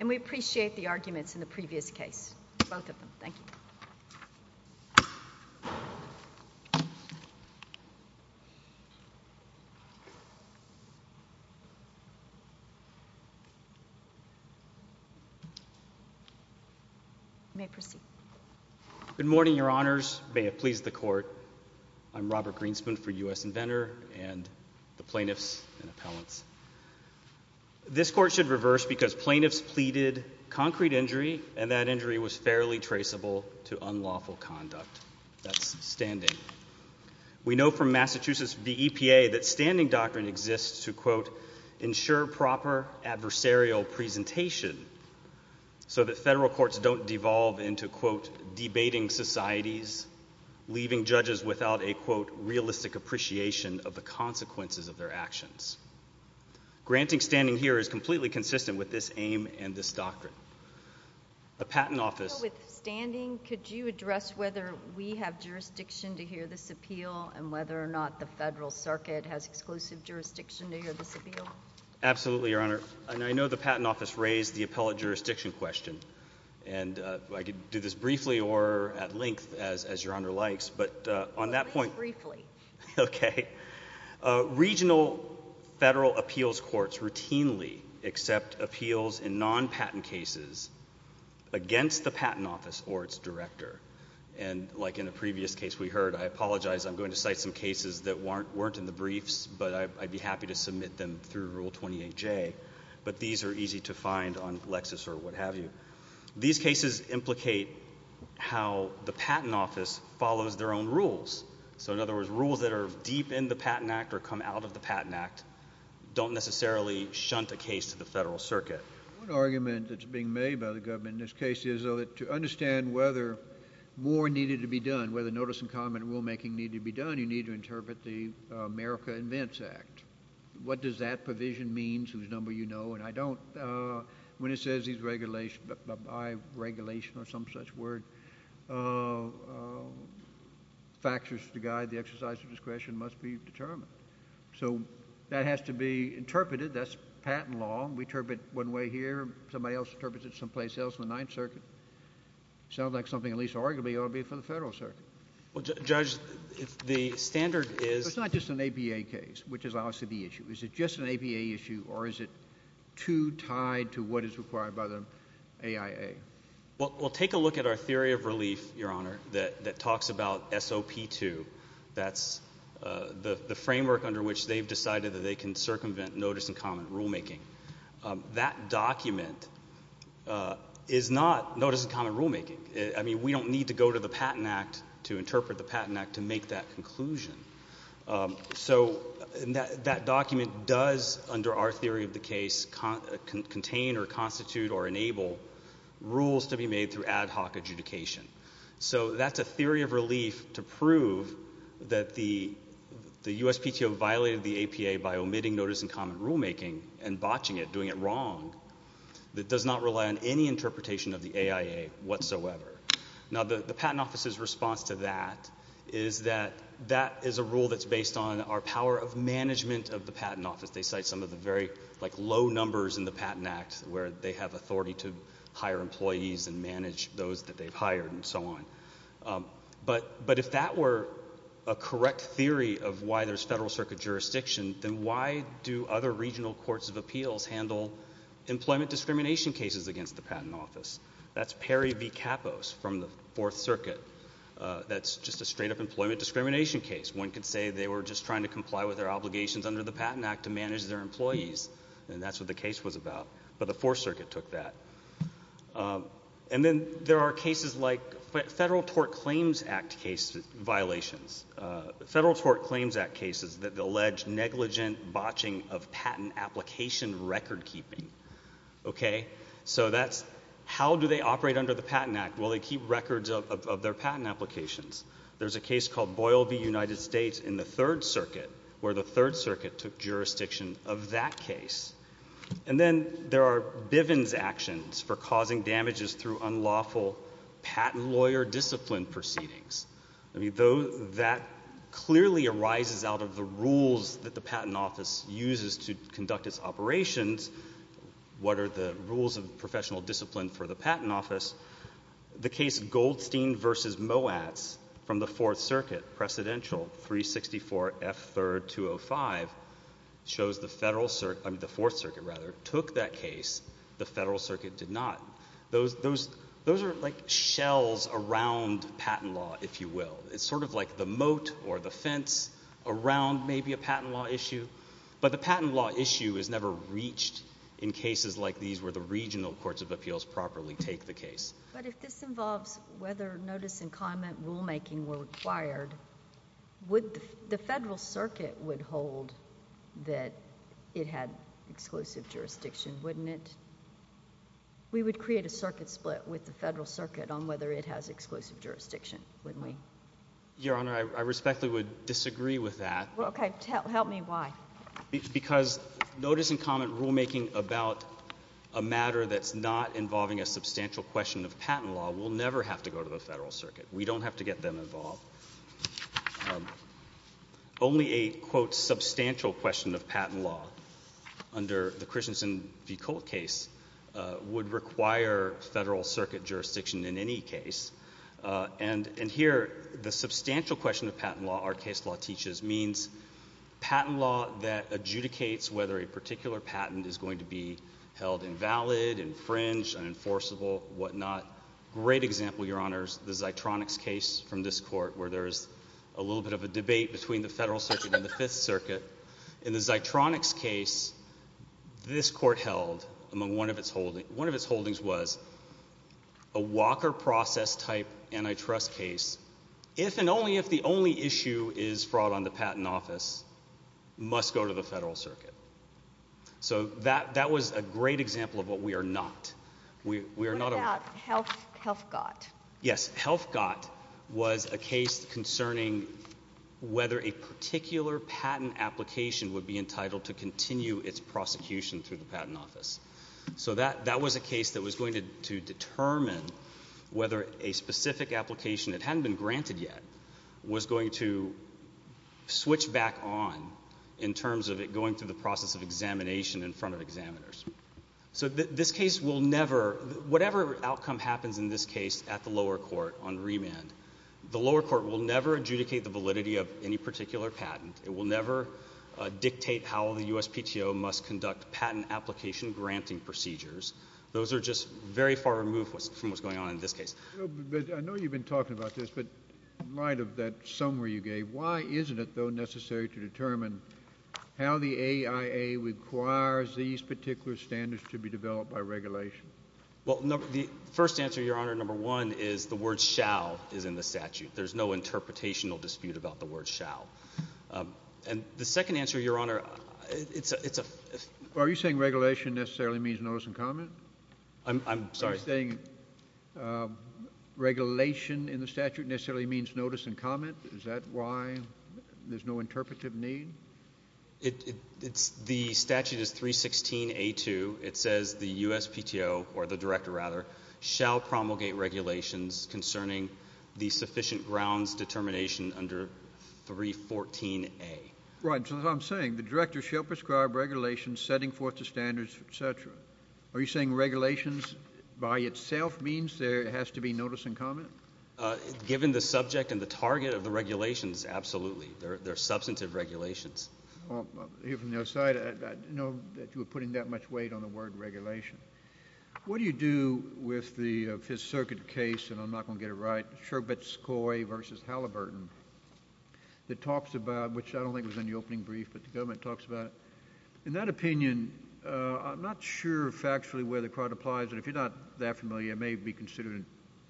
and we appreciate the arguments in the previous case, both of them. Thank you. Good morning, your honors. May it please the court. I'm Robert Greenspan for U.S. Inventor and the plaintiffs and appellants. This court should reverse because plaintiffs pleaded concrete injury and that injury was fairly traceable to unlawful conduct. That's standing. We know from Massachusetts V. EPA that standing doctrine exists to, quote, ensure proper adversarial presentation so that federal courts don't devolve into, quote, debating societies, leaving judges without a, quote, realistic appreciation of the consequences of their actions. Granting standing here is completely consistent with this aim and this doctrine. The patent office With standing, could you address whether we have jurisdiction to hear this appeal and whether or not the federal circuit has exclusive jurisdiction to hear this appeal? Absolutely, your honor. And I know the patent office raised the appellate jurisdiction question and I could do this briefly or at length as your honor likes, but on that point Briefly. Okay. Regional federal appeals courts routinely accept appeals in non-patent cases against the patent office or its director. And like in the previous case we heard, I apologize, I'm going to cite some cases that weren't in the briefs, but I'd be happy to submit them through Rule 28J. But these are easy to find on Lexis or what have you. These cases implicate how the patent office follows their own rules. So in other words, rules that are deep in the Patent Act or come out of the Patent Act don't necessarily shunt a case to the federal circuit. One argument that's being made by the government in this case is to understand whether more needed to be done, whether notice and comment rulemaking needed to be done, you need to know what does that provision means, whose number you know, and I don't. When it says these regulations, by regulation or some such word, factors to guide the exercise of discretion must be determined. So that has to be interpreted. That's patent law. We interpret it one way here, somebody else interprets it someplace else in the Ninth Circuit. Sounds like something at least arguably ought to be for the federal circuit. Well, Judge, if the standard is So it's not just an APA case, which is obviously the issue. Is it just an APA issue or is it too tied to what is required by the AIA? Well, take a look at our theory of relief, Your Honor, that talks about SOP 2. That's the framework under which they've decided that they can circumvent notice and comment rulemaking. That document is not notice and comment rulemaking. I mean, we don't need to go to the Patent Act to interpret the Patent Act to make that conclusion. So that document does, under our theory of the case, contain or constitute or enable rules to be made through ad hoc adjudication. So that's a theory of relief to prove that the USPTO violated the APA by omitting notice and comment rulemaking and botching it, doing it wrong. It does not rely on any interpretation of the AIA whatsoever. Now, the Patent Office's response to that is that that is a rule that's based on our power of management of the Patent Office. They cite some of the very low numbers in the Patent Act where they have authority to hire employees and manage those that they've hired and so on. But if that were a correct theory of why there's federal circuit jurisdiction, then why do other regional courts of appeals handle employment discrimination cases against the Patent Office? That's Perry v. Capos from the Fourth Circuit. That's just a straight-up employment discrimination case. One could say they were just trying to comply with their obligations under the Patent Act to manage their employees, and that's what the case was about. But the Fourth Circuit took that. And then there are cases like Federal Tort Claims Act case violations. Federal Tort Claims Act cases that allege negligent botching of patent application recordkeeping. Okay? So that's how do they operate under the Patent Act? Well, they keep records of their patent applications. There's a case called Boyle v. United States in the Third Circuit where the Third Circuit took jurisdiction of that case. And then there are Bivens actions for causing damages through unlawful patent lawyer discipline proceedings. I mean, that clearly arises out of the rules that the Patent Office uses to conduct its operations. What are the rules of professional discipline for the Patent Office? The case Goldstein v. Moatz from the Fourth Circuit, Presidential, 364 F. 3rd, 205, shows the Fourth Circuit took that case. The Federal Circuit did not. Those are like shells around patent law, if you will. It's sort of like the moat or the fence around maybe a patent law issue. But the patent law issue is never reached in cases like these where the regional courts of appeals properly take the case. But if this involves whether notice and comment rulemaking were required, the Federal Circuit would hold that it had exclusive jurisdiction, wouldn't it? We would create a circuit split with the Federal Circuit on whether it has exclusive jurisdiction, wouldn't we? Your Honor, I respectfully would disagree with that. Well, okay, help me why. Because notice and comment rulemaking about a matter that's not involving a substantial question of patent law will never have to go to the Federal Circuit. We don't have to get them involved. Only a, quote, substantial question of patent law under the Christensen v. Colt case would require Federal Circuit jurisdiction in any case. And here, the substantial question of patent law, our case law teaches, means patent law that adjudicates whether a particular patent is going to be held invalid, infringed, unenforceable, whatnot. Great example, Your Honors, the Zeitronics case from this Court, where there's a little bit of a debate between the Federal Circuit and the Fifth Circuit. In the Zeitronics case, this Court held, among one of its holdings, was a Walker process-type antitrust case, if and only if the only issue is fraud on the patent office, must go to the Federal Circuit. So that was a great example of what we are not. What about Helfgott? Yes, Helfgott was a case concerning whether a particular patent application would be entitled to continue its prosecution through the patent office. So that was a case that was going to determine whether a specific application that hadn't been granted yet was going to switch back on in terms of it going through the process of examination in front of examiners. So this case will never, whatever outcome happens in this case at the lower court on remand, the lower court will never adjudicate the validity of any particular patent. It will never dictate how the USPTO must conduct patent application granting procedures. Those are just very far removed from what's going on in this case. I know you've been talking about this, but in light of that summary you gave, why isn't it, though, necessary to determine how the AIA requires these particular standards to be developed by regulation? Well, the first answer, Your Honor, number one is the word shall is in the statute. There's no interpretational dispute about the word shall. And the second answer, Your Honor, it's a... Are you saying regulation necessarily means notice and comment? I'm sorry? Are you saying regulation in the statute necessarily means notice and comment? Is that why there's no interpretive need? It's, the statute is the USPTO, or the director, rather, shall promulgate regulations concerning the sufficient grounds determination under 314A. Right, so what I'm saying, the director shall prescribe regulations setting forth the standards, et cetera. Are you saying regulations by itself means there has to be notice and comment? Given the subject and the target of the regulations, absolutely. They're substantive regulations. Well, here from the other side, I didn't know that you were putting that much weight on the word regulation. What do you do with the Fifth Circuit case, and I'm not going to get it right, Scherbetskoi v. Halliburton, that talks about, which I don't think was in the opening brief, but the government talks about, in that opinion, I'm not sure factually where the credit applies, and if you're not that familiar, it may be considered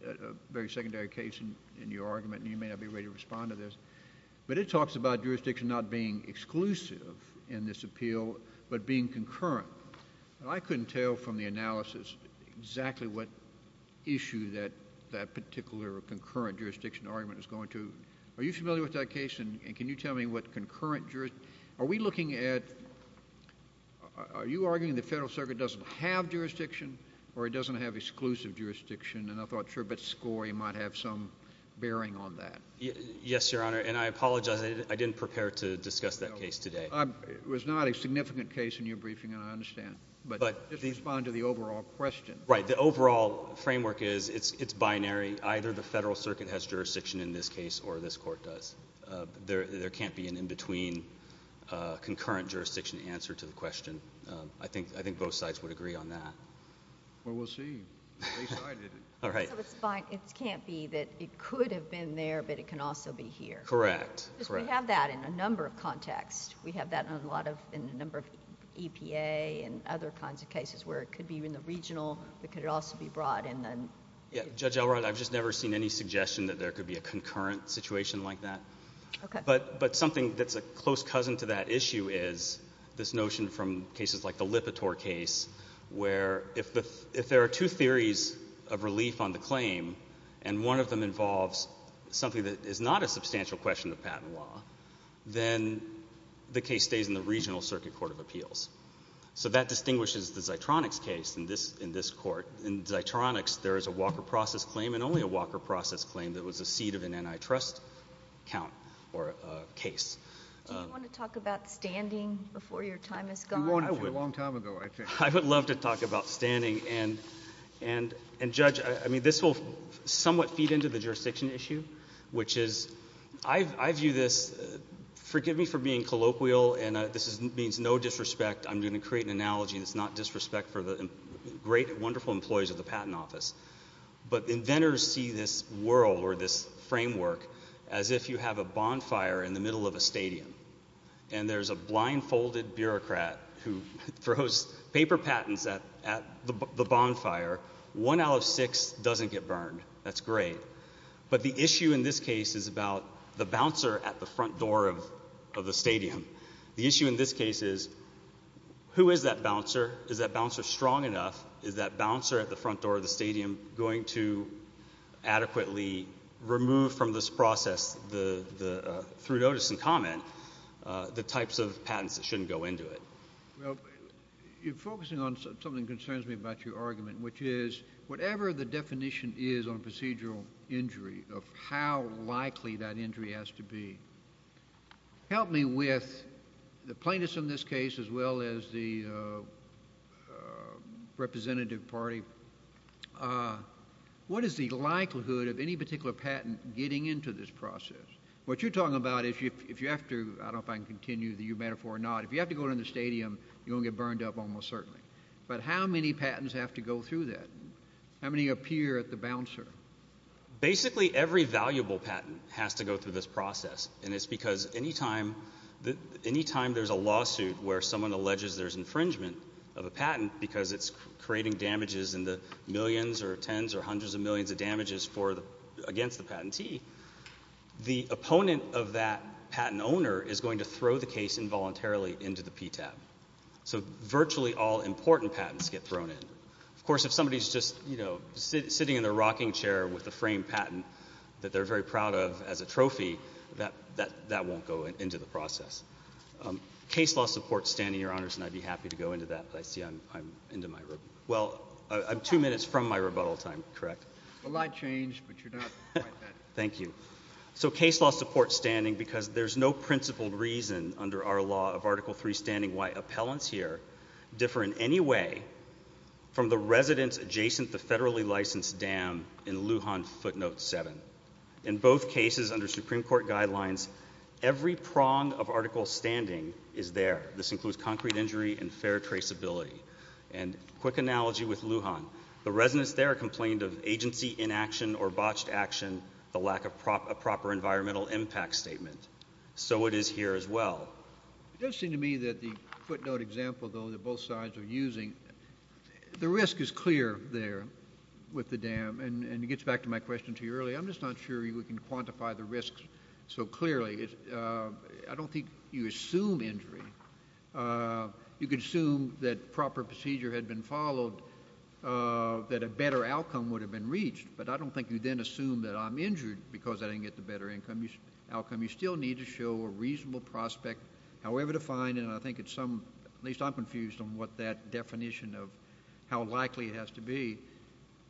a very secondary case in your argument, and you may not be ready to respond to this. But it talks about jurisdiction not being exclusive in this appeal, but being concurrent. I couldn't tell from the analysis exactly what issue that particular concurrent jurisdiction argument is going to. Are you familiar with that case, and can you tell me what concurrent jurisdiction? Are we looking at, are you arguing the Federal Circuit doesn't have jurisdiction, or it doesn't have exclusive jurisdiction? And I thought Scherbetskoi might have some bearing on that. Yes, Your Honor, and I apologize, I didn't prepare to discuss that case today. It was not a significant case in your briefing, and I understand, but just respond to the overall question. Right, the overall framework is it's binary. Either the Federal Circuit has jurisdiction in this case, or this Court does. There can't be an in-between concurrent jurisdiction answer to the question. I think both sides would agree on that. Well, we'll see. At least I didn't. All right. So it can't be that it could have been there, but it can also be here. Correct. Because we have that in a number of contexts. We have that in a lot of, in a number of EPA and other kinds of cases where it could be in the regional, but could it also be brought in the... Yeah, Judge Elrod, I've just never seen any suggestion that there could be a concurrent situation like that. Okay. But something that's a close cousin to that issue is this notion from cases like the Lipitor case, where if there are two theories of relief on the claim, and one of them involves something that is not a substantial question of patent law, then the case stays in the regional Circuit Court of Appeals. So that distinguishes the Zitronix case in this Court. In Zitronix, there is a Walker process claim, and only a Walker process claim that was the seed of an antitrust count or case. Do you want to talk about standing before your time has gone? I would love to talk about standing, and, Judge, I mean, this will somewhat feed into the jurisdiction issue, which is, I view this, forgive me for being colloquial, and this means no disrespect. I'm going to create an analogy that's not disrespect for the great and wonderful employees of the Patent Office. But inventors see this world or this framework as if you have a bonfire in the middle of a stadium, and there's a blindfolded bureaucrat who throws paper patents at the bonfire. One out of six doesn't get burned. That's great. But the issue in this case is about the bouncer at the front door of the stadium. The issue in this case is, who is that bouncer? Is that bouncer strong enough? Is that bouncer at the front door of the stadium going to adequately remove from this process, through notice and comment, the types of patents that shouldn't go into it? Well, you're focusing on something that concerns me about your argument, which is, whatever the definition is on procedural injury, of how likely that injury has to be, help me with the plaintiffs in this case, as well as the representative party. What is the likelihood of any particular patent getting into this process? What you're talking about is, if you have to, I don't know if I can continue the metaphor or not, if you have to go in the stadium, you're going to get burned up almost certainly. But how many patents have to go through that? How many appear at the bouncer? Basically, every valuable patent has to go through this process. And it's because any time there's a lawsuit where someone alleges there's infringement of a patent because it's creating damages and the millions or tens or hundreds of millions of damages against the patentee, the opponent of that patent owner is going to throw the case involuntarily into the PTAB. So virtually all important patents get thrown in. Of course, if somebody's just sitting in their rocking chair with a framed patent that they're very proud of as a trophy, that won't go into the process. Case law supports standing, Your Honors, and I'd be happy to go into that, but I see I'm into my rebuttal. Well, I'm two minutes from my rebuttal time, correct? Well, I'd change, but you're not quite there. Thank you. So case law supports standing because there's no principled reason under our law of Article III standing why appellants here differ in any way from the residents adjacent the federally licensed dam in Lujan Footnote 7. In both cases under Supreme Court guidelines, every prong of Article standing is there. This includes concrete injury and fair traceability. And quick analogy with Lujan. The residents there complained of agency inaction or botched action, the lack of proper environmental impact statement. So it is here as well. It does seem to me that the footnote example, though, that both sides are using, the risk is clear there with the dam, and it gets back to my question to you earlier. I'm just not sure we can quantify the risks so clearly. I don't think you assume injury. You can assume that proper procedure had been followed, that a better outcome would have been reached, but I don't think you then assume that I'm injured because I didn't get the better outcome. You still need to show a reasonable prospect, however defined, and I think at some, at least I'm confused on what that definition of how likely it has to be.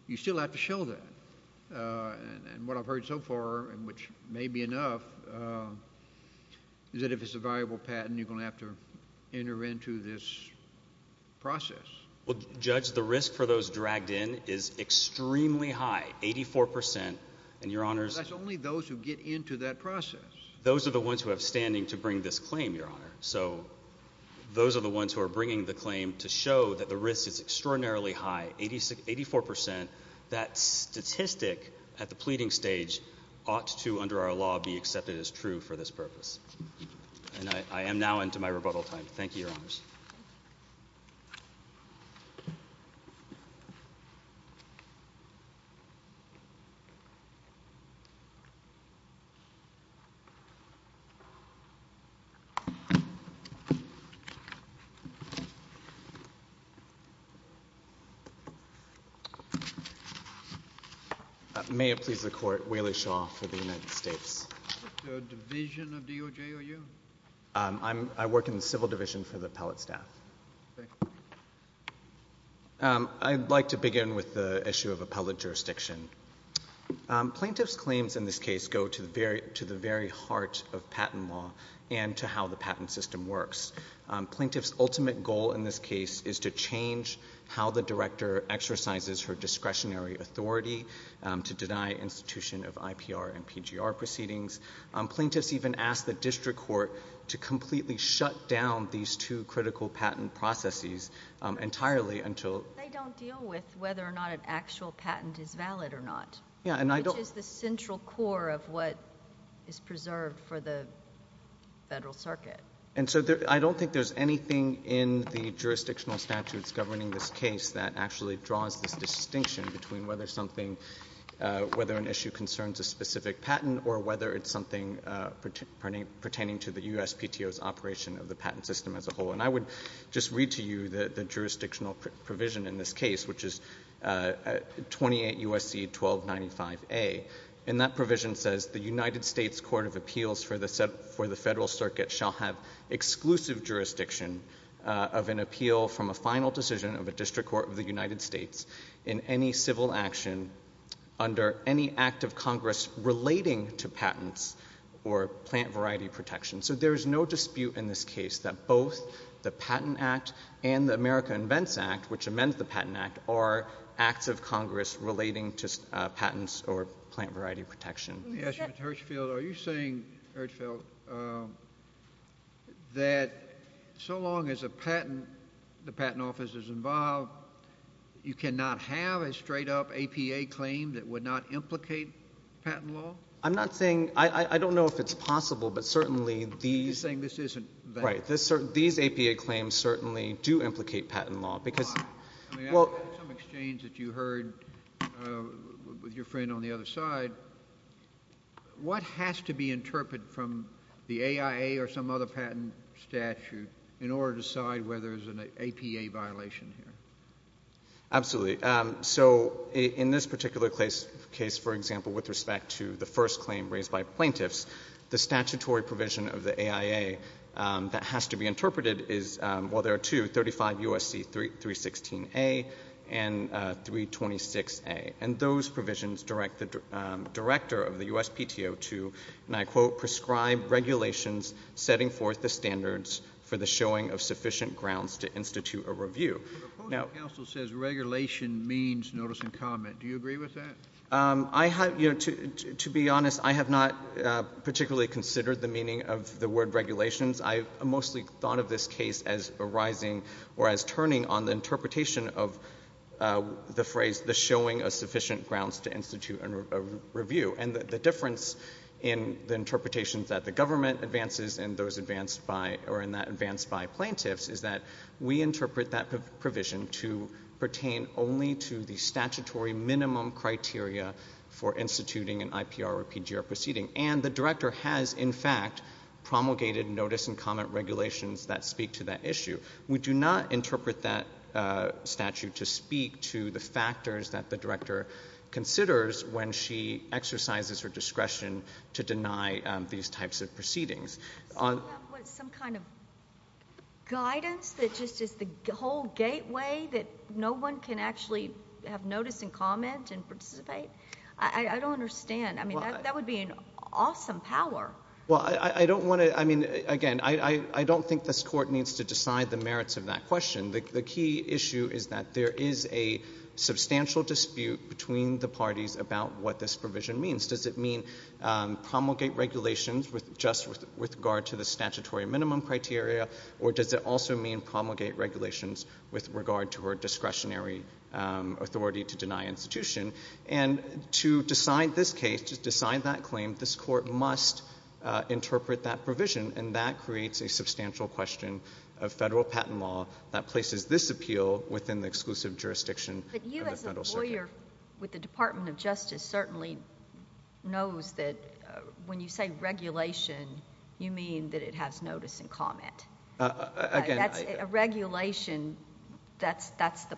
You still have to show that. And what I've heard so far, and which may be enough, is that if it's a viable patent you're going to have to enter into this process. Well, Judge, the risk for those dragged in is extremely high, 84%. And Your Honors That's only those who get into that process. Those are the ones who have standing to bring this claim, Your Honor. So those are the ones who are bringing the claim to show that the risk is extraordinarily high, 84%. That statistic at the pleading stage ought to, under our law, be accepted as true for this purpose. And I am now into my rebuttal time. Thank you, Your Honors. May it please the Court, Wayley Shaw for the United States. Division of DOJ, are you? I work in the Civil Division for the appellate staff. I'd like to begin with the issue of appellate jurisdiction. Plaintiffs' claims in this case go to the very heart of patent law and to how the patent system works. Plaintiffs' ultimate goal in this case is to change how the director exercises her discretionary authority to deny institution of IPR and PGR proceedings. Plaintiffs even ask the district court to completely shut down these two critical patent processes entirely until... They don't deal with whether or not an actual patent is valid or not, which is the central core of what is preserved for the Federal Circuit. And so I don't think there's anything in the jurisdictional statutes governing this case that actually draws this distinction between whether an issue concerns a specific patent or whether it's something pertaining to the USPTO's operation of the patent system as a whole. And I would just read to you the jurisdictional provision in this case, which is 28 U.S.C. 1295A. And that provision says the United States Court of Appeals for the Federal Circuit shall have exclusive jurisdiction of an appeal from a final decision of a district court of the United States in any civil action under any act of Congress relating to patents or plant variety protection. So there is no dispute in this case that both the Patent Act and the America Invents Act, which amends the Patent Act, are acts of Congress relating to patents or plant variety protection. Let me ask you, Mr. Hirchfield, are you saying, Hirchfield, that so long as a patent, the you cannot have a straight-up APA claim that would not implicate patent law? I'm not saying, I don't know if it's possible, but certainly these You're saying this isn't that Right. These APA claims certainly do implicate patent law because I mean, after some exchange that you heard with your friend on the other side, what has to be interpreted from the AIA or some other patent statute in order to decide whether there's an APA violation here? Absolutely. So in this particular case, for example, with respect to the first claim raised by plaintiffs, the statutory provision of the AIA that has to be interpreted is, well, there are two, 35 U.S.C. 316a and 326a. And those provisions direct the director of the U.S.PTO to, and I quote, prescribe regulations setting forth the standards for the showing of sufficient grounds to institute a review. The proposal says regulation means notice and comment. Do you agree with that? To be honest, I have not particularly considered the meaning of the word regulations. I mostly thought of this case as arising or as turning on the interpretation of the phrase, the showing of sufficient grounds to institute a review. And the difference in the interpretations that the government advances and those advanced by, or in that advanced by plaintiffs is that we interpret that provision to pertain only to the statutory minimum criteria for instituting an IPR or PGR proceeding. And the director has, in fact, promulgated notice and comment regulations that speak to that issue. We do not interpret that statute to speak to the factors that the director considers when she exercises her discretion to deny these types of proceedings. So you have some kind of guidance that just is the whole gateway that no one can actually have notice and comment and participate? I don't understand. I mean, that would be an awesome power. Well, I don't want to, I mean, again, I don't think this Court needs to decide the merits of that question. The key issue is that there is a substantial dispute between the parties about what this provision means. Does it mean promulgate regulations just with regard to the statutory minimum criteria, or does it also mean promulgate regulations with regard to her discretionary authority to deny institution? And to decide this case, to decide that claim, this Court must interpret that provision, and that creates a substantial question of federal patent law that places this appeal within the exclusive jurisdiction of the federal circuit. The lawyer with the Department of Justice certainly knows that when you say regulation, you mean that it has notice and comment. Again, I— That's a regulation. That's the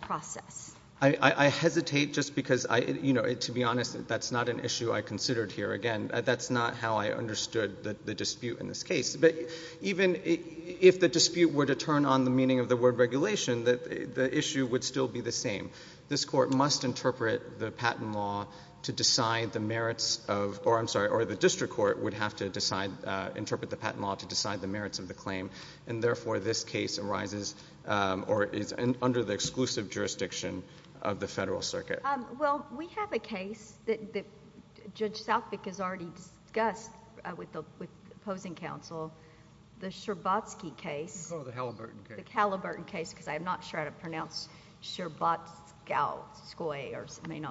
process. I hesitate just because, you know, to be honest, that's not an issue I considered here. Again, that's not how I understood the dispute in this case. But even if the dispute were to arise, this Court must interpret the patent law to decide the merits of—or, I'm sorry, or the district court would have to decide—interpret the patent law to decide the merits of the claim, and therefore this case arises or is under the exclusive jurisdiction of the federal circuit. Well, we have a case that Judge Southwick has already discussed with the opposing counsel, the Scherbatsky case— Oh, the Halliburton case. Because I'm not sure how to pronounce Scherbatskoy or something.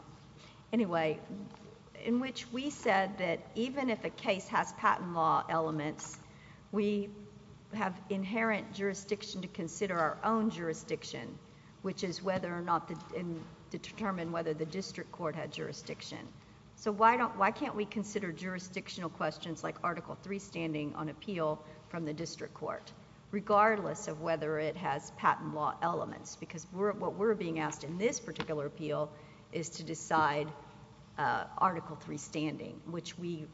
Anyway, in which we said that even if a case has patent law elements, we have inherent jurisdiction to consider our own jurisdiction, which is whether or not to determine whether the district court had jurisdiction. So why can't we consider jurisdictional questions like Article III standing on appeal from the district court, regardless of whether it has patent law elements? Because what we're being asked in this particular appeal is to decide Article III standing, which we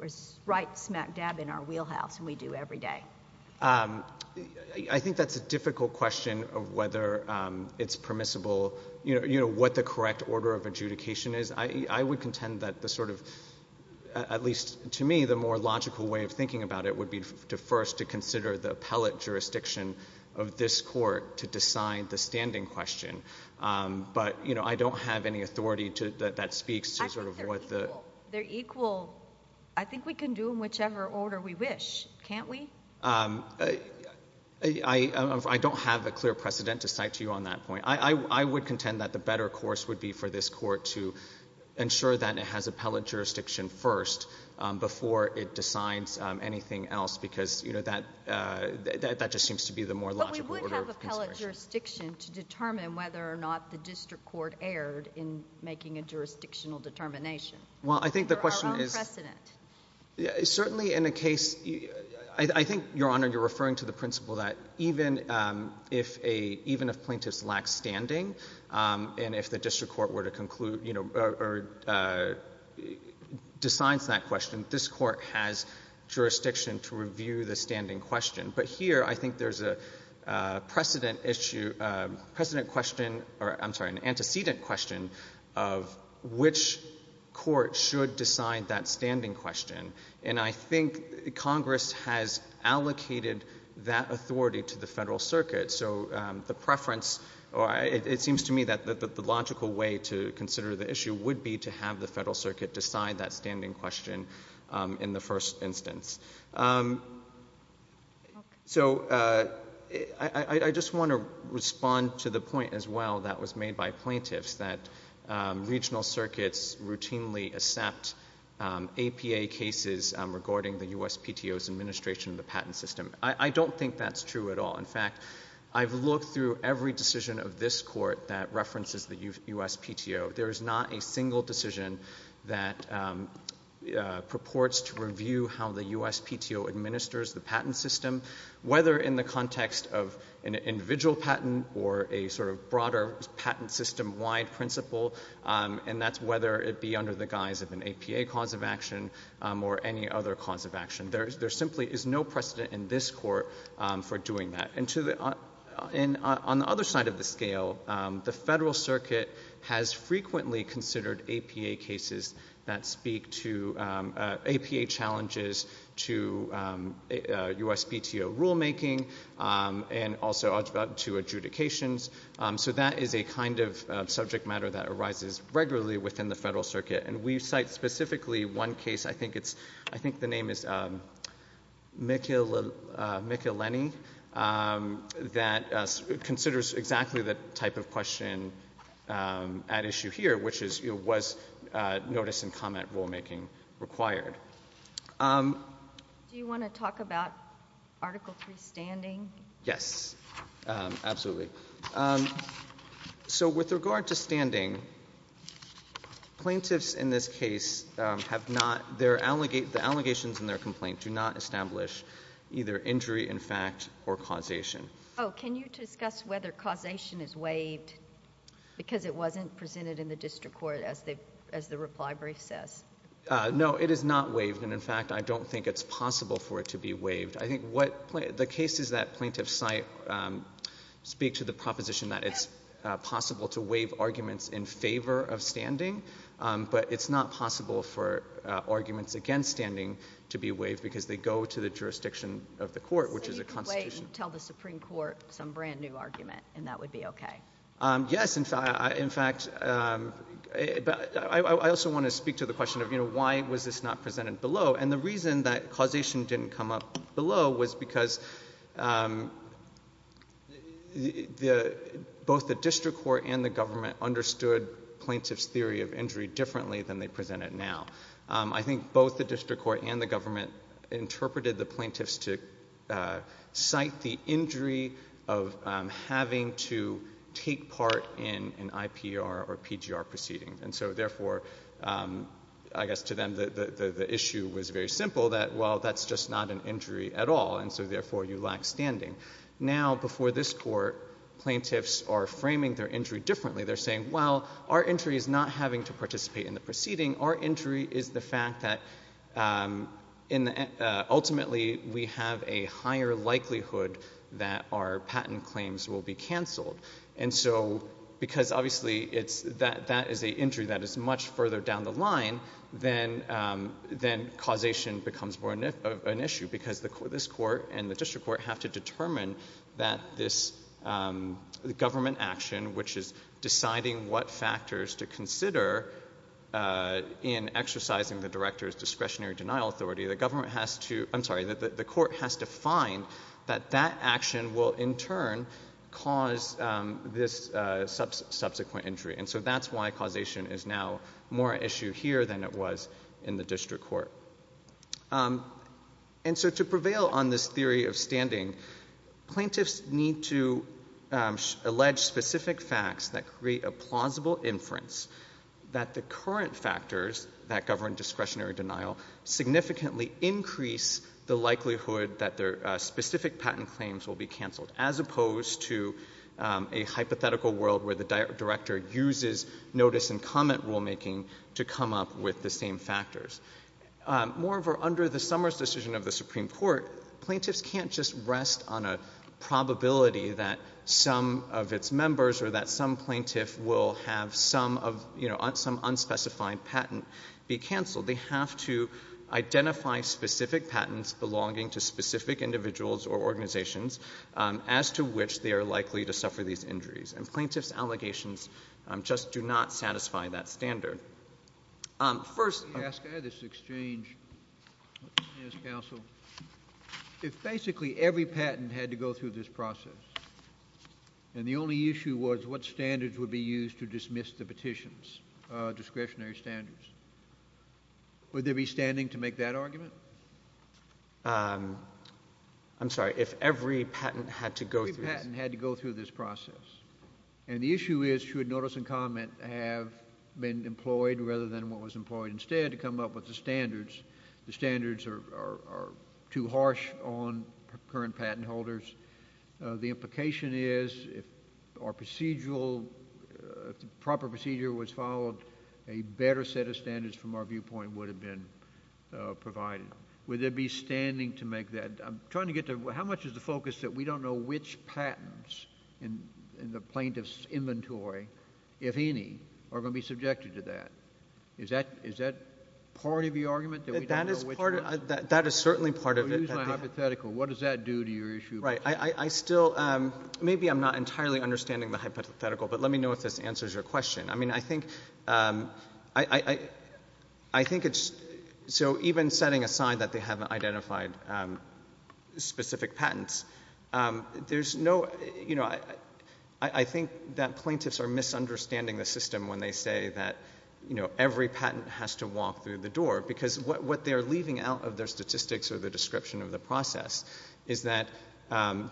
write smack dab in our wheelhouse and we do every day. I think that's a difficult question of whether it's permissible—you know, what the correct order of adjudication is. I would contend that the sort of—at least to me, the more difficult is to consider the appellate jurisdiction of this court to decide the standing question. But you know, I don't have any authority that speaks to sort of what the— I think they're equal. I think we can do them whichever order we wish, can't we? I don't have a clear precedent to cite to you on that point. I would contend that the better course would be for this court to ensure that it has appellate jurisdiction first before it decides anything else, because, you know, that just seems to be the more logical order of consideration. But we would have appellate jurisdiction to determine whether or not the district court erred in making a jurisdictional determination. Well, I think the question is— For our own precedent. Certainly in a case—I think, Your Honor, you're referring to the principle that even if plaintiffs lack standing and if the district court were to conclude—or decides that question, this court has jurisdiction to review the standing question. But here, I think there's a precedent issue—a precedent question—I'm sorry, an antecedent question of which court should decide that standing question. And I think Congress has allocated that authority to the Federal Circuit. So the preference—it seems to me that the logical way to consider the issue would be to have the Federal Circuit decide that standing question in the first instance. So I just want to respond to the point as well that was made by plaintiffs, that regional circuits routinely accept APA cases regarding the USPTO's administration of the patent system. I don't think that's true at all. In fact, I've looked through every decision of this USPTO. There is not a single decision that purports to review how the USPTO administers the patent system, whether in the context of an individual patent or a sort of broader patent system-wide principle, and that's whether it be under the guise of an APA cause of action or any other cause of action. There simply is no precedent in this Court for doing that. And on the other side of the scale, the Federal Circuit has frequently considered APA cases that speak to APA challenges to USPTO rulemaking and also to adjudications. So that is a kind of subject matter that arises regularly within the Federal Circuit. And we cite specifically one case, I think the name is Michaleni, that considers exactly the type of question at issue here, which is, was notice and comment rulemaking required? Do you want to talk about Article III standing? Yes, absolutely. So with regard to standing, plaintiffs in this case have a right to stand and the allegations in their complaint do not establish either injury in fact or causation. Oh, can you discuss whether causation is waived because it wasn't presented in the district court as the reply brief says? No, it is not waived, and in fact I don't think it's possible for it to be waived. I think the cases that plaintiffs cite speak to the proposition that it's possible to waive arguments against standing to be waived because they go to the jurisdiction of the court, which is a constitution. So you could wait and tell the Supreme Court some brand new argument and that would be okay? Yes, in fact, I also want to speak to the question of why was this not presented below? And the reason that causation didn't come up below was because both the district court and the government understood plaintiffs' theory of injury differently than they present it now. I think both the district court and the government interpreted the plaintiffs to cite the injury of having to take part in an IPR or PGR proceeding. And so therefore, I guess to them the issue was very simple that, well, that's just not an injury at all, and so therefore you lack standing. Now before this court, plaintiffs are framing their injury differently. They're saying, well, our injury is not having to participate in the proceeding. Our injury is the fact that ultimately we have a higher likelihood that our patent claims will be canceled. And so because obviously that is an injury that is much further down the line, then causation becomes more of an issue because this court and the district court have to determine that this government action, which is deciding what factors to consider in exercising the director's discretionary denial authority, the court has to find that that action will in turn cause this subsequent injury. And so that's why causation is now more an issue here than it was in the district court. And so to prevail on this theory of standing, plaintiffs need to allege specific facts that create a plausible inference that the current factors that govern discretionary denial significantly increase the likelihood that their specific patent claims will be canceled, as opposed to a hypothetical world where the director uses notice and comment rulemaking to come up with the same factors. Moreover, under the Summers decision of the Supreme Court, plaintiffs can't just rest on a probability that some of its members or that some plaintiff will have some unspecified patent be canceled. They have to identify specific patents belonging to specific individuals or organizations as to which they are likely to suffer these injuries. And plaintiffs' allegations just do not satisfy that standard. First... Can I ask, at this exchange, yes, counsel, if basically every patent had to go through this process and the only issue was what standards would be used to dismiss the petitions, discretionary standards, would there be standing to make that argument? I'm sorry, if every patent had to go through this process. Every patent had to go through this process. And the issue is, should notice and comment have been employed rather than what was employed instead to come up with the standards? The standards are too harsh on current patent holders. The implication is, if our procedural, if the proper procedure was followed, a better set of standards from our viewpoint would have been provided. Would there be standing to make that? I'm trying to get to, how much is the focus that we don't know which patents in the plaintiff's inventory, if any, are going to be subjected to that? Is that part of the argument that we don't know which ones? That is certainly part of it. I'm going to use my hypothetical. What does that do to your issue? Right. I still, maybe I'm not entirely understanding the hypothetical, but let me know if this So even setting aside that they haven't identified specific patents, there's no, you know, I think that plaintiffs are misunderstanding the system when they say that, you know, every patent has to walk through the door. Because what they're leaving out of their statistics or the description of the process is that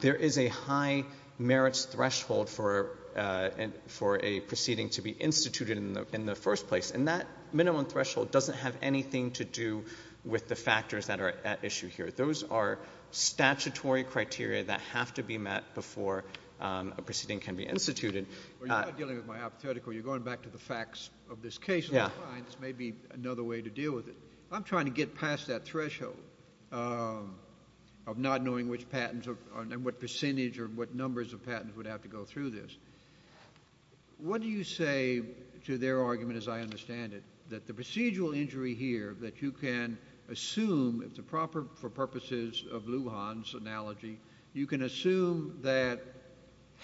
there is a high merits threshold for a proceeding to be instituted in the first place. And that minimum threshold doesn't have anything to do with the factors that are at issue here. Those are statutory criteria that have to be met before a proceeding can be instituted. You're not dealing with my hypothetical. You're going back to the facts of this case. Yeah. And I find this may be another way to deal with it. I'm trying to get past that threshold of not knowing which patents, and what percentage or what numbers of patents would have to go through this. What do you say to their argument, as I understand it, that the procedural injury here that you can assume, if the proper, for purposes of Lujan's analogy, you can assume that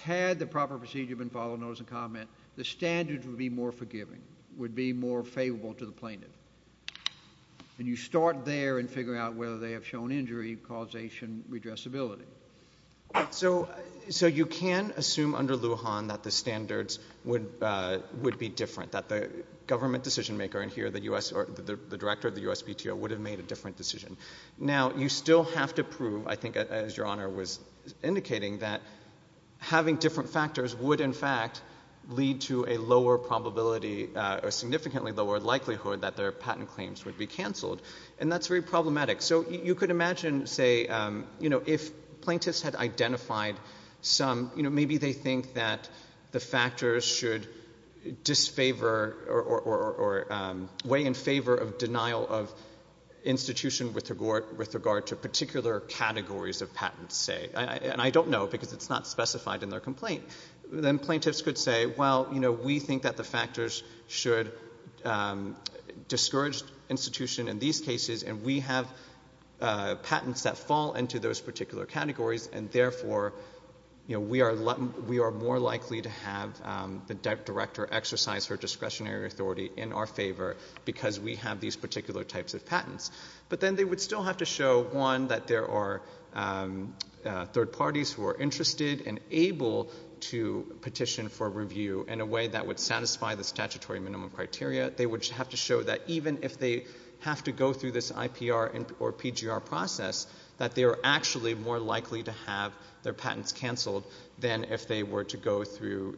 had the proper procedure been followed, notice and comment, the standards would be more forgiving, would be more favorable to the plaintiff. And you start there and figure out whether they have shown injury, causation, redressability. So you can assume under Lujan that the standards would be different, that the government decision maker in here, the director of the USPTO, would have made a different decision. Now, you still have to prove, I think as Your Honor was indicating, that having different factors would, in fact, lead to a lower probability, a significantly lower likelihood that their patent claims would be canceled. And that's very problematic. So you could imagine, say, if plaintiffs had identified some, maybe they think that the factors should disfavor or weigh in favor of denial of institution with regard to particular categories of patents, say. And I don't know, because it's not specified in their complaint. Then plaintiffs could say, well, we think that the factors should discourage institution in these cases, and we have patents that fall into those particular categories. And therefore, we are more likely to have the director exercise her discretionary authority in our favor because we have these particular types of patents. But then they would still have to show, one, that there are third parties who are interested and able to petition for review in a way that would satisfy the statutory minimum criteria. They would have to show that even if they have to go through this IPR or PGR process, that they are actually more likely to have their patents canceled than if they were to go through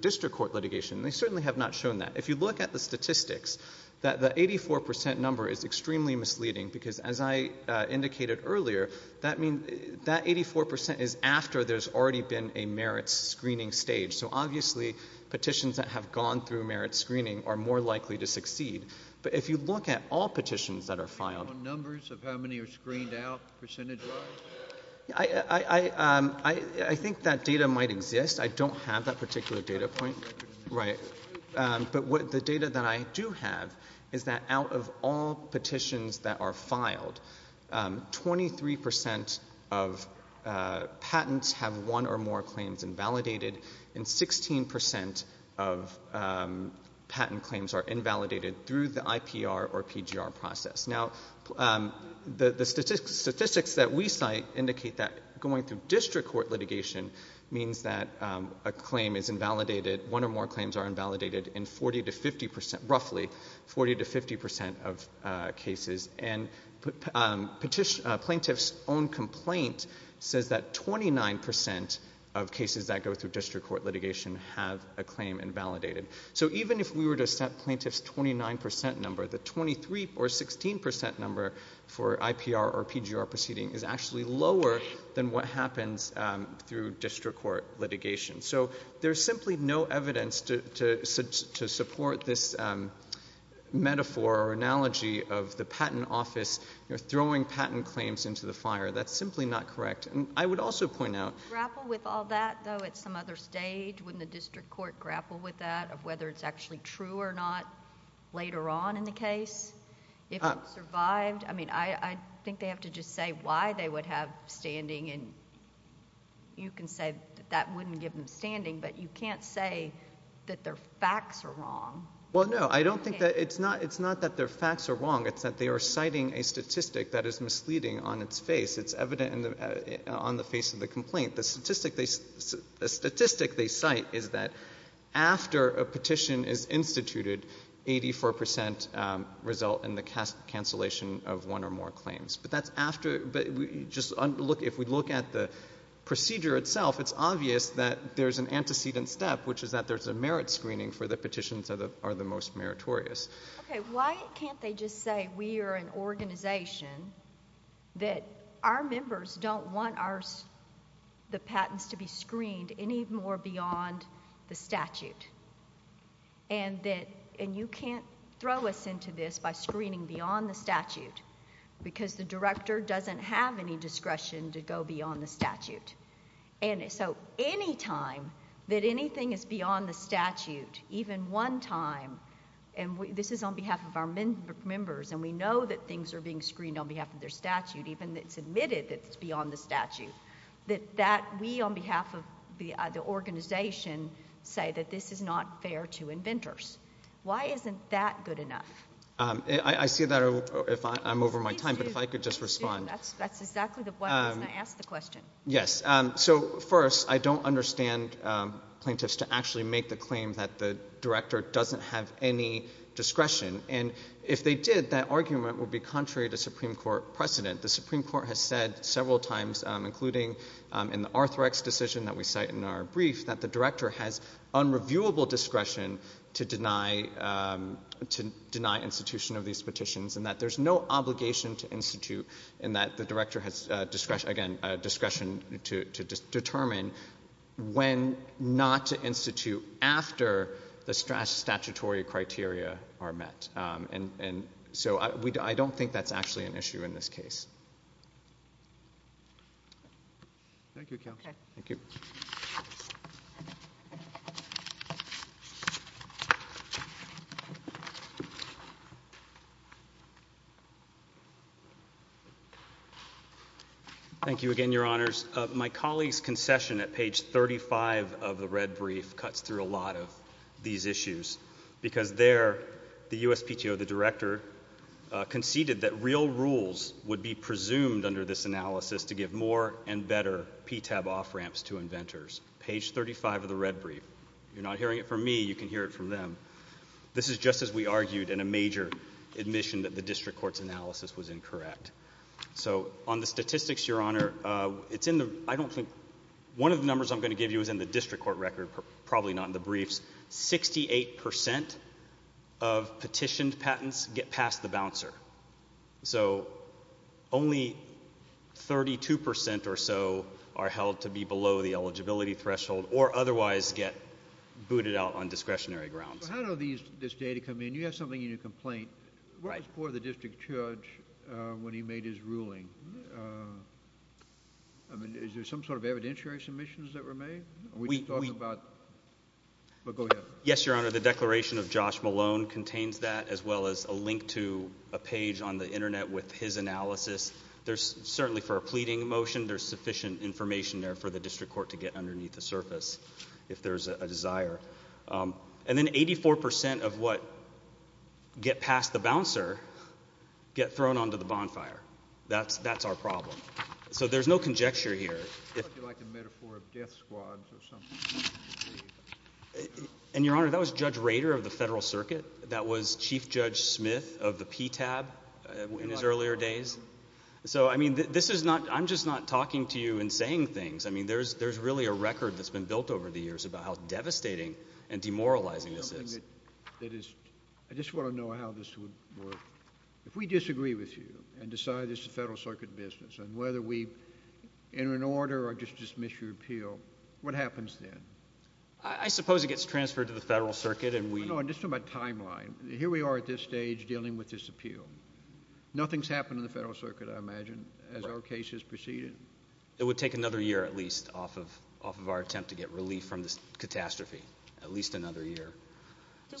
district court litigation. They certainly have not shown that. If you look at the statistics, the 84% number is extremely misleading because, as I indicated earlier, that 84% is after there's already been a merit screening stage. So obviously, petitions that have gone through merit screening are more likely to succeed. But if you look at all petitions that are filed... You know numbers of how many are screened out, percentage wise? I think that data might exist. I don't have that particular data point. Right. But the data that I do have is that out of all petitions that are filed, 23% of patents have one or more claims invalidated, and 16% of patent claims are invalidated through the IPR or PGR process. Now, the statistics that we cite indicate that going through district court litigation means that a claim is invalidated, one or more claims are invalidated in 40 to 50%... Roughly 40 to 50% of cases. And plaintiff's own complaint says that 29% of cases that go through district court litigation have a claim invalidated. So even if we were to set plaintiff's 29% number, the 23 or 16% number for IPR or PGR proceeding is actually lower than what happens through district court litigation. So there's simply no evidence to support this metaphor or analogy of the patent-only office throwing patent claims into the fire. That's simply not correct. I would also point out... Would you grapple with all that, though, at some other stage when the district court grappled with that, of whether it's actually true or not later on in the case? If it survived? I mean, I think they have to just say why they would have standing and you can say that that wouldn't give them standing, but you can't say that their facts are wrong. Well, no. I don't think that... It's not that their facts are wrong. It's that they are citing a statistic that is misleading on its face. It's evident on the face of the complaint. The statistic they cite is that after a petition is instituted, 84% result in the cancellation of one or more claims. But that's after... If we look at the procedure itself, it's obvious that there's an antecedent step, which is that there's a merit screening for the petitions that are the most meritorious. Okay. Why can't they just say we are an organization that our members don't want the patents to be screened any more beyond the statute? And you can't throw us into this by screening beyond the statute because the director doesn't have any discretion to go beyond the statute. And so any time that anything is beyond the statute, even one time, and this is on behalf of our members and we know that things are being screened on behalf of their statute, even if it's admitted that it's beyond the statute, that we on behalf of the organization say that this is not fair to inventors. Why isn't that good enough? I see that I'm over my time, but if I could just respond. That's exactly why I asked the question. Yes. So first, I don't understand plaintiffs to actually make the claim that the director doesn't have any discretion. And if they did, that argument would be contrary to Supreme Court precedent. The Supreme Court has said several times, including in the Arthrex decision that we cite in our brief, that the director has unreviewable discretion to deny institution of these petitions, and that there's no obligation to institute, and that the director has discretion to determine when not to institute after the statutory criteria are met. And so I don't think that's actually an issue in this case. Thank you, counsel. Thank you again, Your Honors. My colleague's concession at page 35 of the red brief cuts through a lot of these issues, because there, the USPTO, the director, conceded that real rules would be presumed under this analysis to give more and better PTAB off-ramps to inventors. Page 35 of the red brief. If you're not hearing it from me, you can hear it from me, but I'm not going to admit that the district court's analysis was incorrect. So on the statistics, Your Honor, it's in the, I don't think, one of the numbers I'm going to give you is in the district court record, probably not in the briefs, 68% of petitioned patents get past the bouncer. So only 32% or so are held to be below the eligibility threshold or otherwise get booted out on discretionary grounds. So how do these, this data come in? You have something in your complaint for the district judge when he made his ruling. I mean, is there some sort of evidentiary submissions that were made? Are we talking about, but go ahead. Yes, Your Honor. The declaration of Josh Malone contains that as well as a link to a page on the internet with his analysis. There's certainly for a pleading motion, there's sufficient information there for the district court to get underneath the surface if there's a desire. And then 84% of what get past the bouncer get thrown onto the bonfire. That's our problem. So there's no conjecture here. I thought you liked the metaphor of death squads or something. And Your Honor, that was Judge Rader of the Federal Circuit. That was Chief Judge Smith of the PTAB in his earlier days. So I mean, this is not, I'm just not talking to you and saying things. I mean, there's really a record that's been built over the years about how devastating and demoralizing this is. I just want to know how this would work. If we disagree with you and decide this is a Federal Circuit business, and whether we enter an order or just dismiss your appeal, what happens then? I suppose it gets transferred to the Federal Circuit and we... No, just on my timeline. Here we are at this stage dealing with this appeal. Nothing's happened in the Federal Circuit, I imagine, as our case has proceeded? It would take another year, at least, off of our attempt to get relief from this catastrophe. At least another year.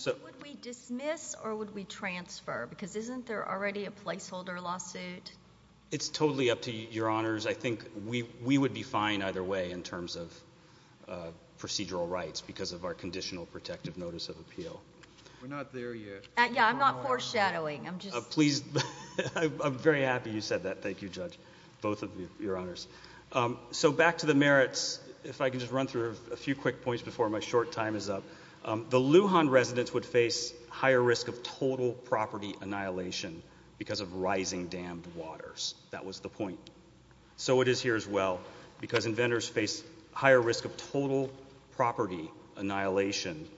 Would we dismiss or would we transfer? Because isn't there already a placeholder lawsuit? It's totally up to Your Honors. I think we would be fine either way in terms of procedural rights because of our Conditional Protective Notice of Appeal. We're not there yet. Yeah, I'm not foreshadowing. I'm just... Both of you, Your Honors. So back to the merits, if I can just run through a few quick points before my short time is up. The Lujan residents would face higher risk of total property annihilation because of rising dammed waters. That was the point. So it is here as well because inventors face higher risk of total property annihilation,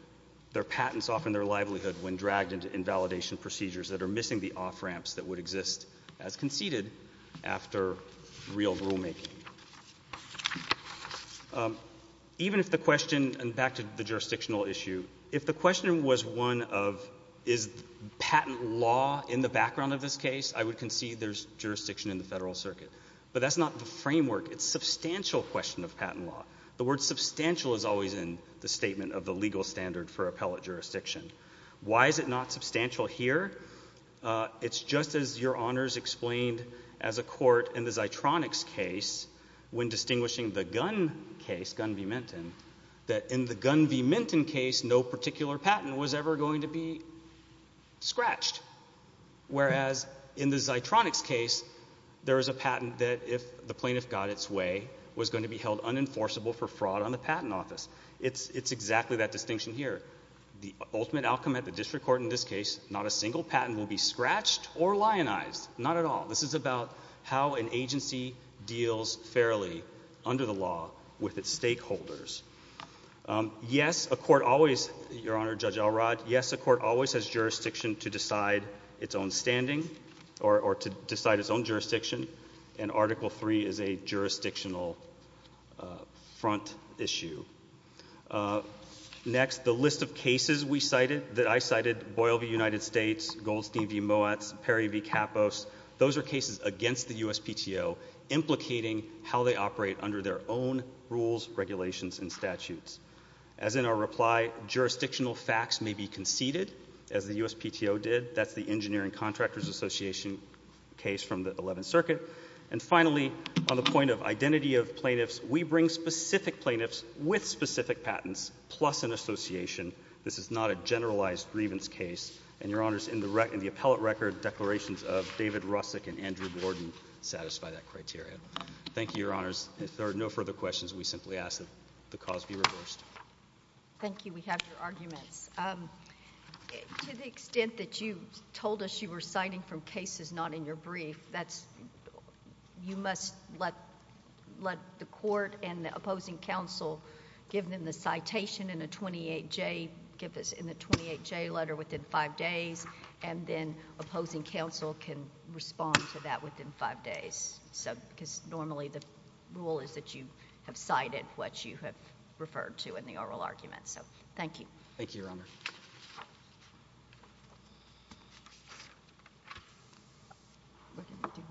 their patents off in their livelihood when dragged into invalidation procedures that are missing the off-ramps that would exist as conceded after real rulemaking. Even if the question, and back to the jurisdictional issue, if the question was one of is patent law in the background of this case, I would concede there's jurisdiction in the Federal Circuit. But that's not the framework. It's a substantial question of patent law. The word substantial is always in the statement of the legal standard for appellate It's just as Your Honors explained as a court in the Zeitronics case, when distinguishing the Gunn case, Gunn v. Minton, that in the Gunn v. Minton case, no particular patent was ever going to be scratched. Whereas in the Zeitronics case, there is a patent that if the plaintiff got its way, was going to be held unenforceable for fraud on the patent office. It's exactly that distinction here. The ultimate outcome at the district court in this case, not a single patent will be scratched or lionized. Not at all. This is about how an agency deals fairly under the law with its stakeholders. Yes, a court always, Your Honor, Judge Elrod, yes, a court always has jurisdiction to decide its own standing or to decide its own jurisdiction. And Article III is a jurisdictional front issue. Next, the list of cases we cited, that I cited, Boyle v. United States, Goldstein v. Moatz, Perry v. Kapos, those are cases against the USPTO, implicating how they operate under their own rules, regulations, and statutes. As in our reply, jurisdictional facts may be conceded, as the USPTO did. That's the Engineering Contractors Association case from the 11th Circuit. And finally, on the point of identity of plaintiffs, we bring specific plaintiffs with specific patents, plus an association. This is not a generalized grievance case. And, Your Honors, in the appellate record, declarations of David Rusick and Andrew Gordon satisfy that criteria. Thank you, Your Honors. If there are no further questions, we simply ask that the cause be reversed. Thank you. We have your arguments. To the extent that you told us you were citing from cases not in your brief, you must let the court and the opposing counsel give them the citation in the 28J letter within five days, and then opposing counsel can respond to that within five days. Because normally, the rule is that you have cited what you have referred to in the oral argument. So, thank you. Thank you, Your Honors. Thank you.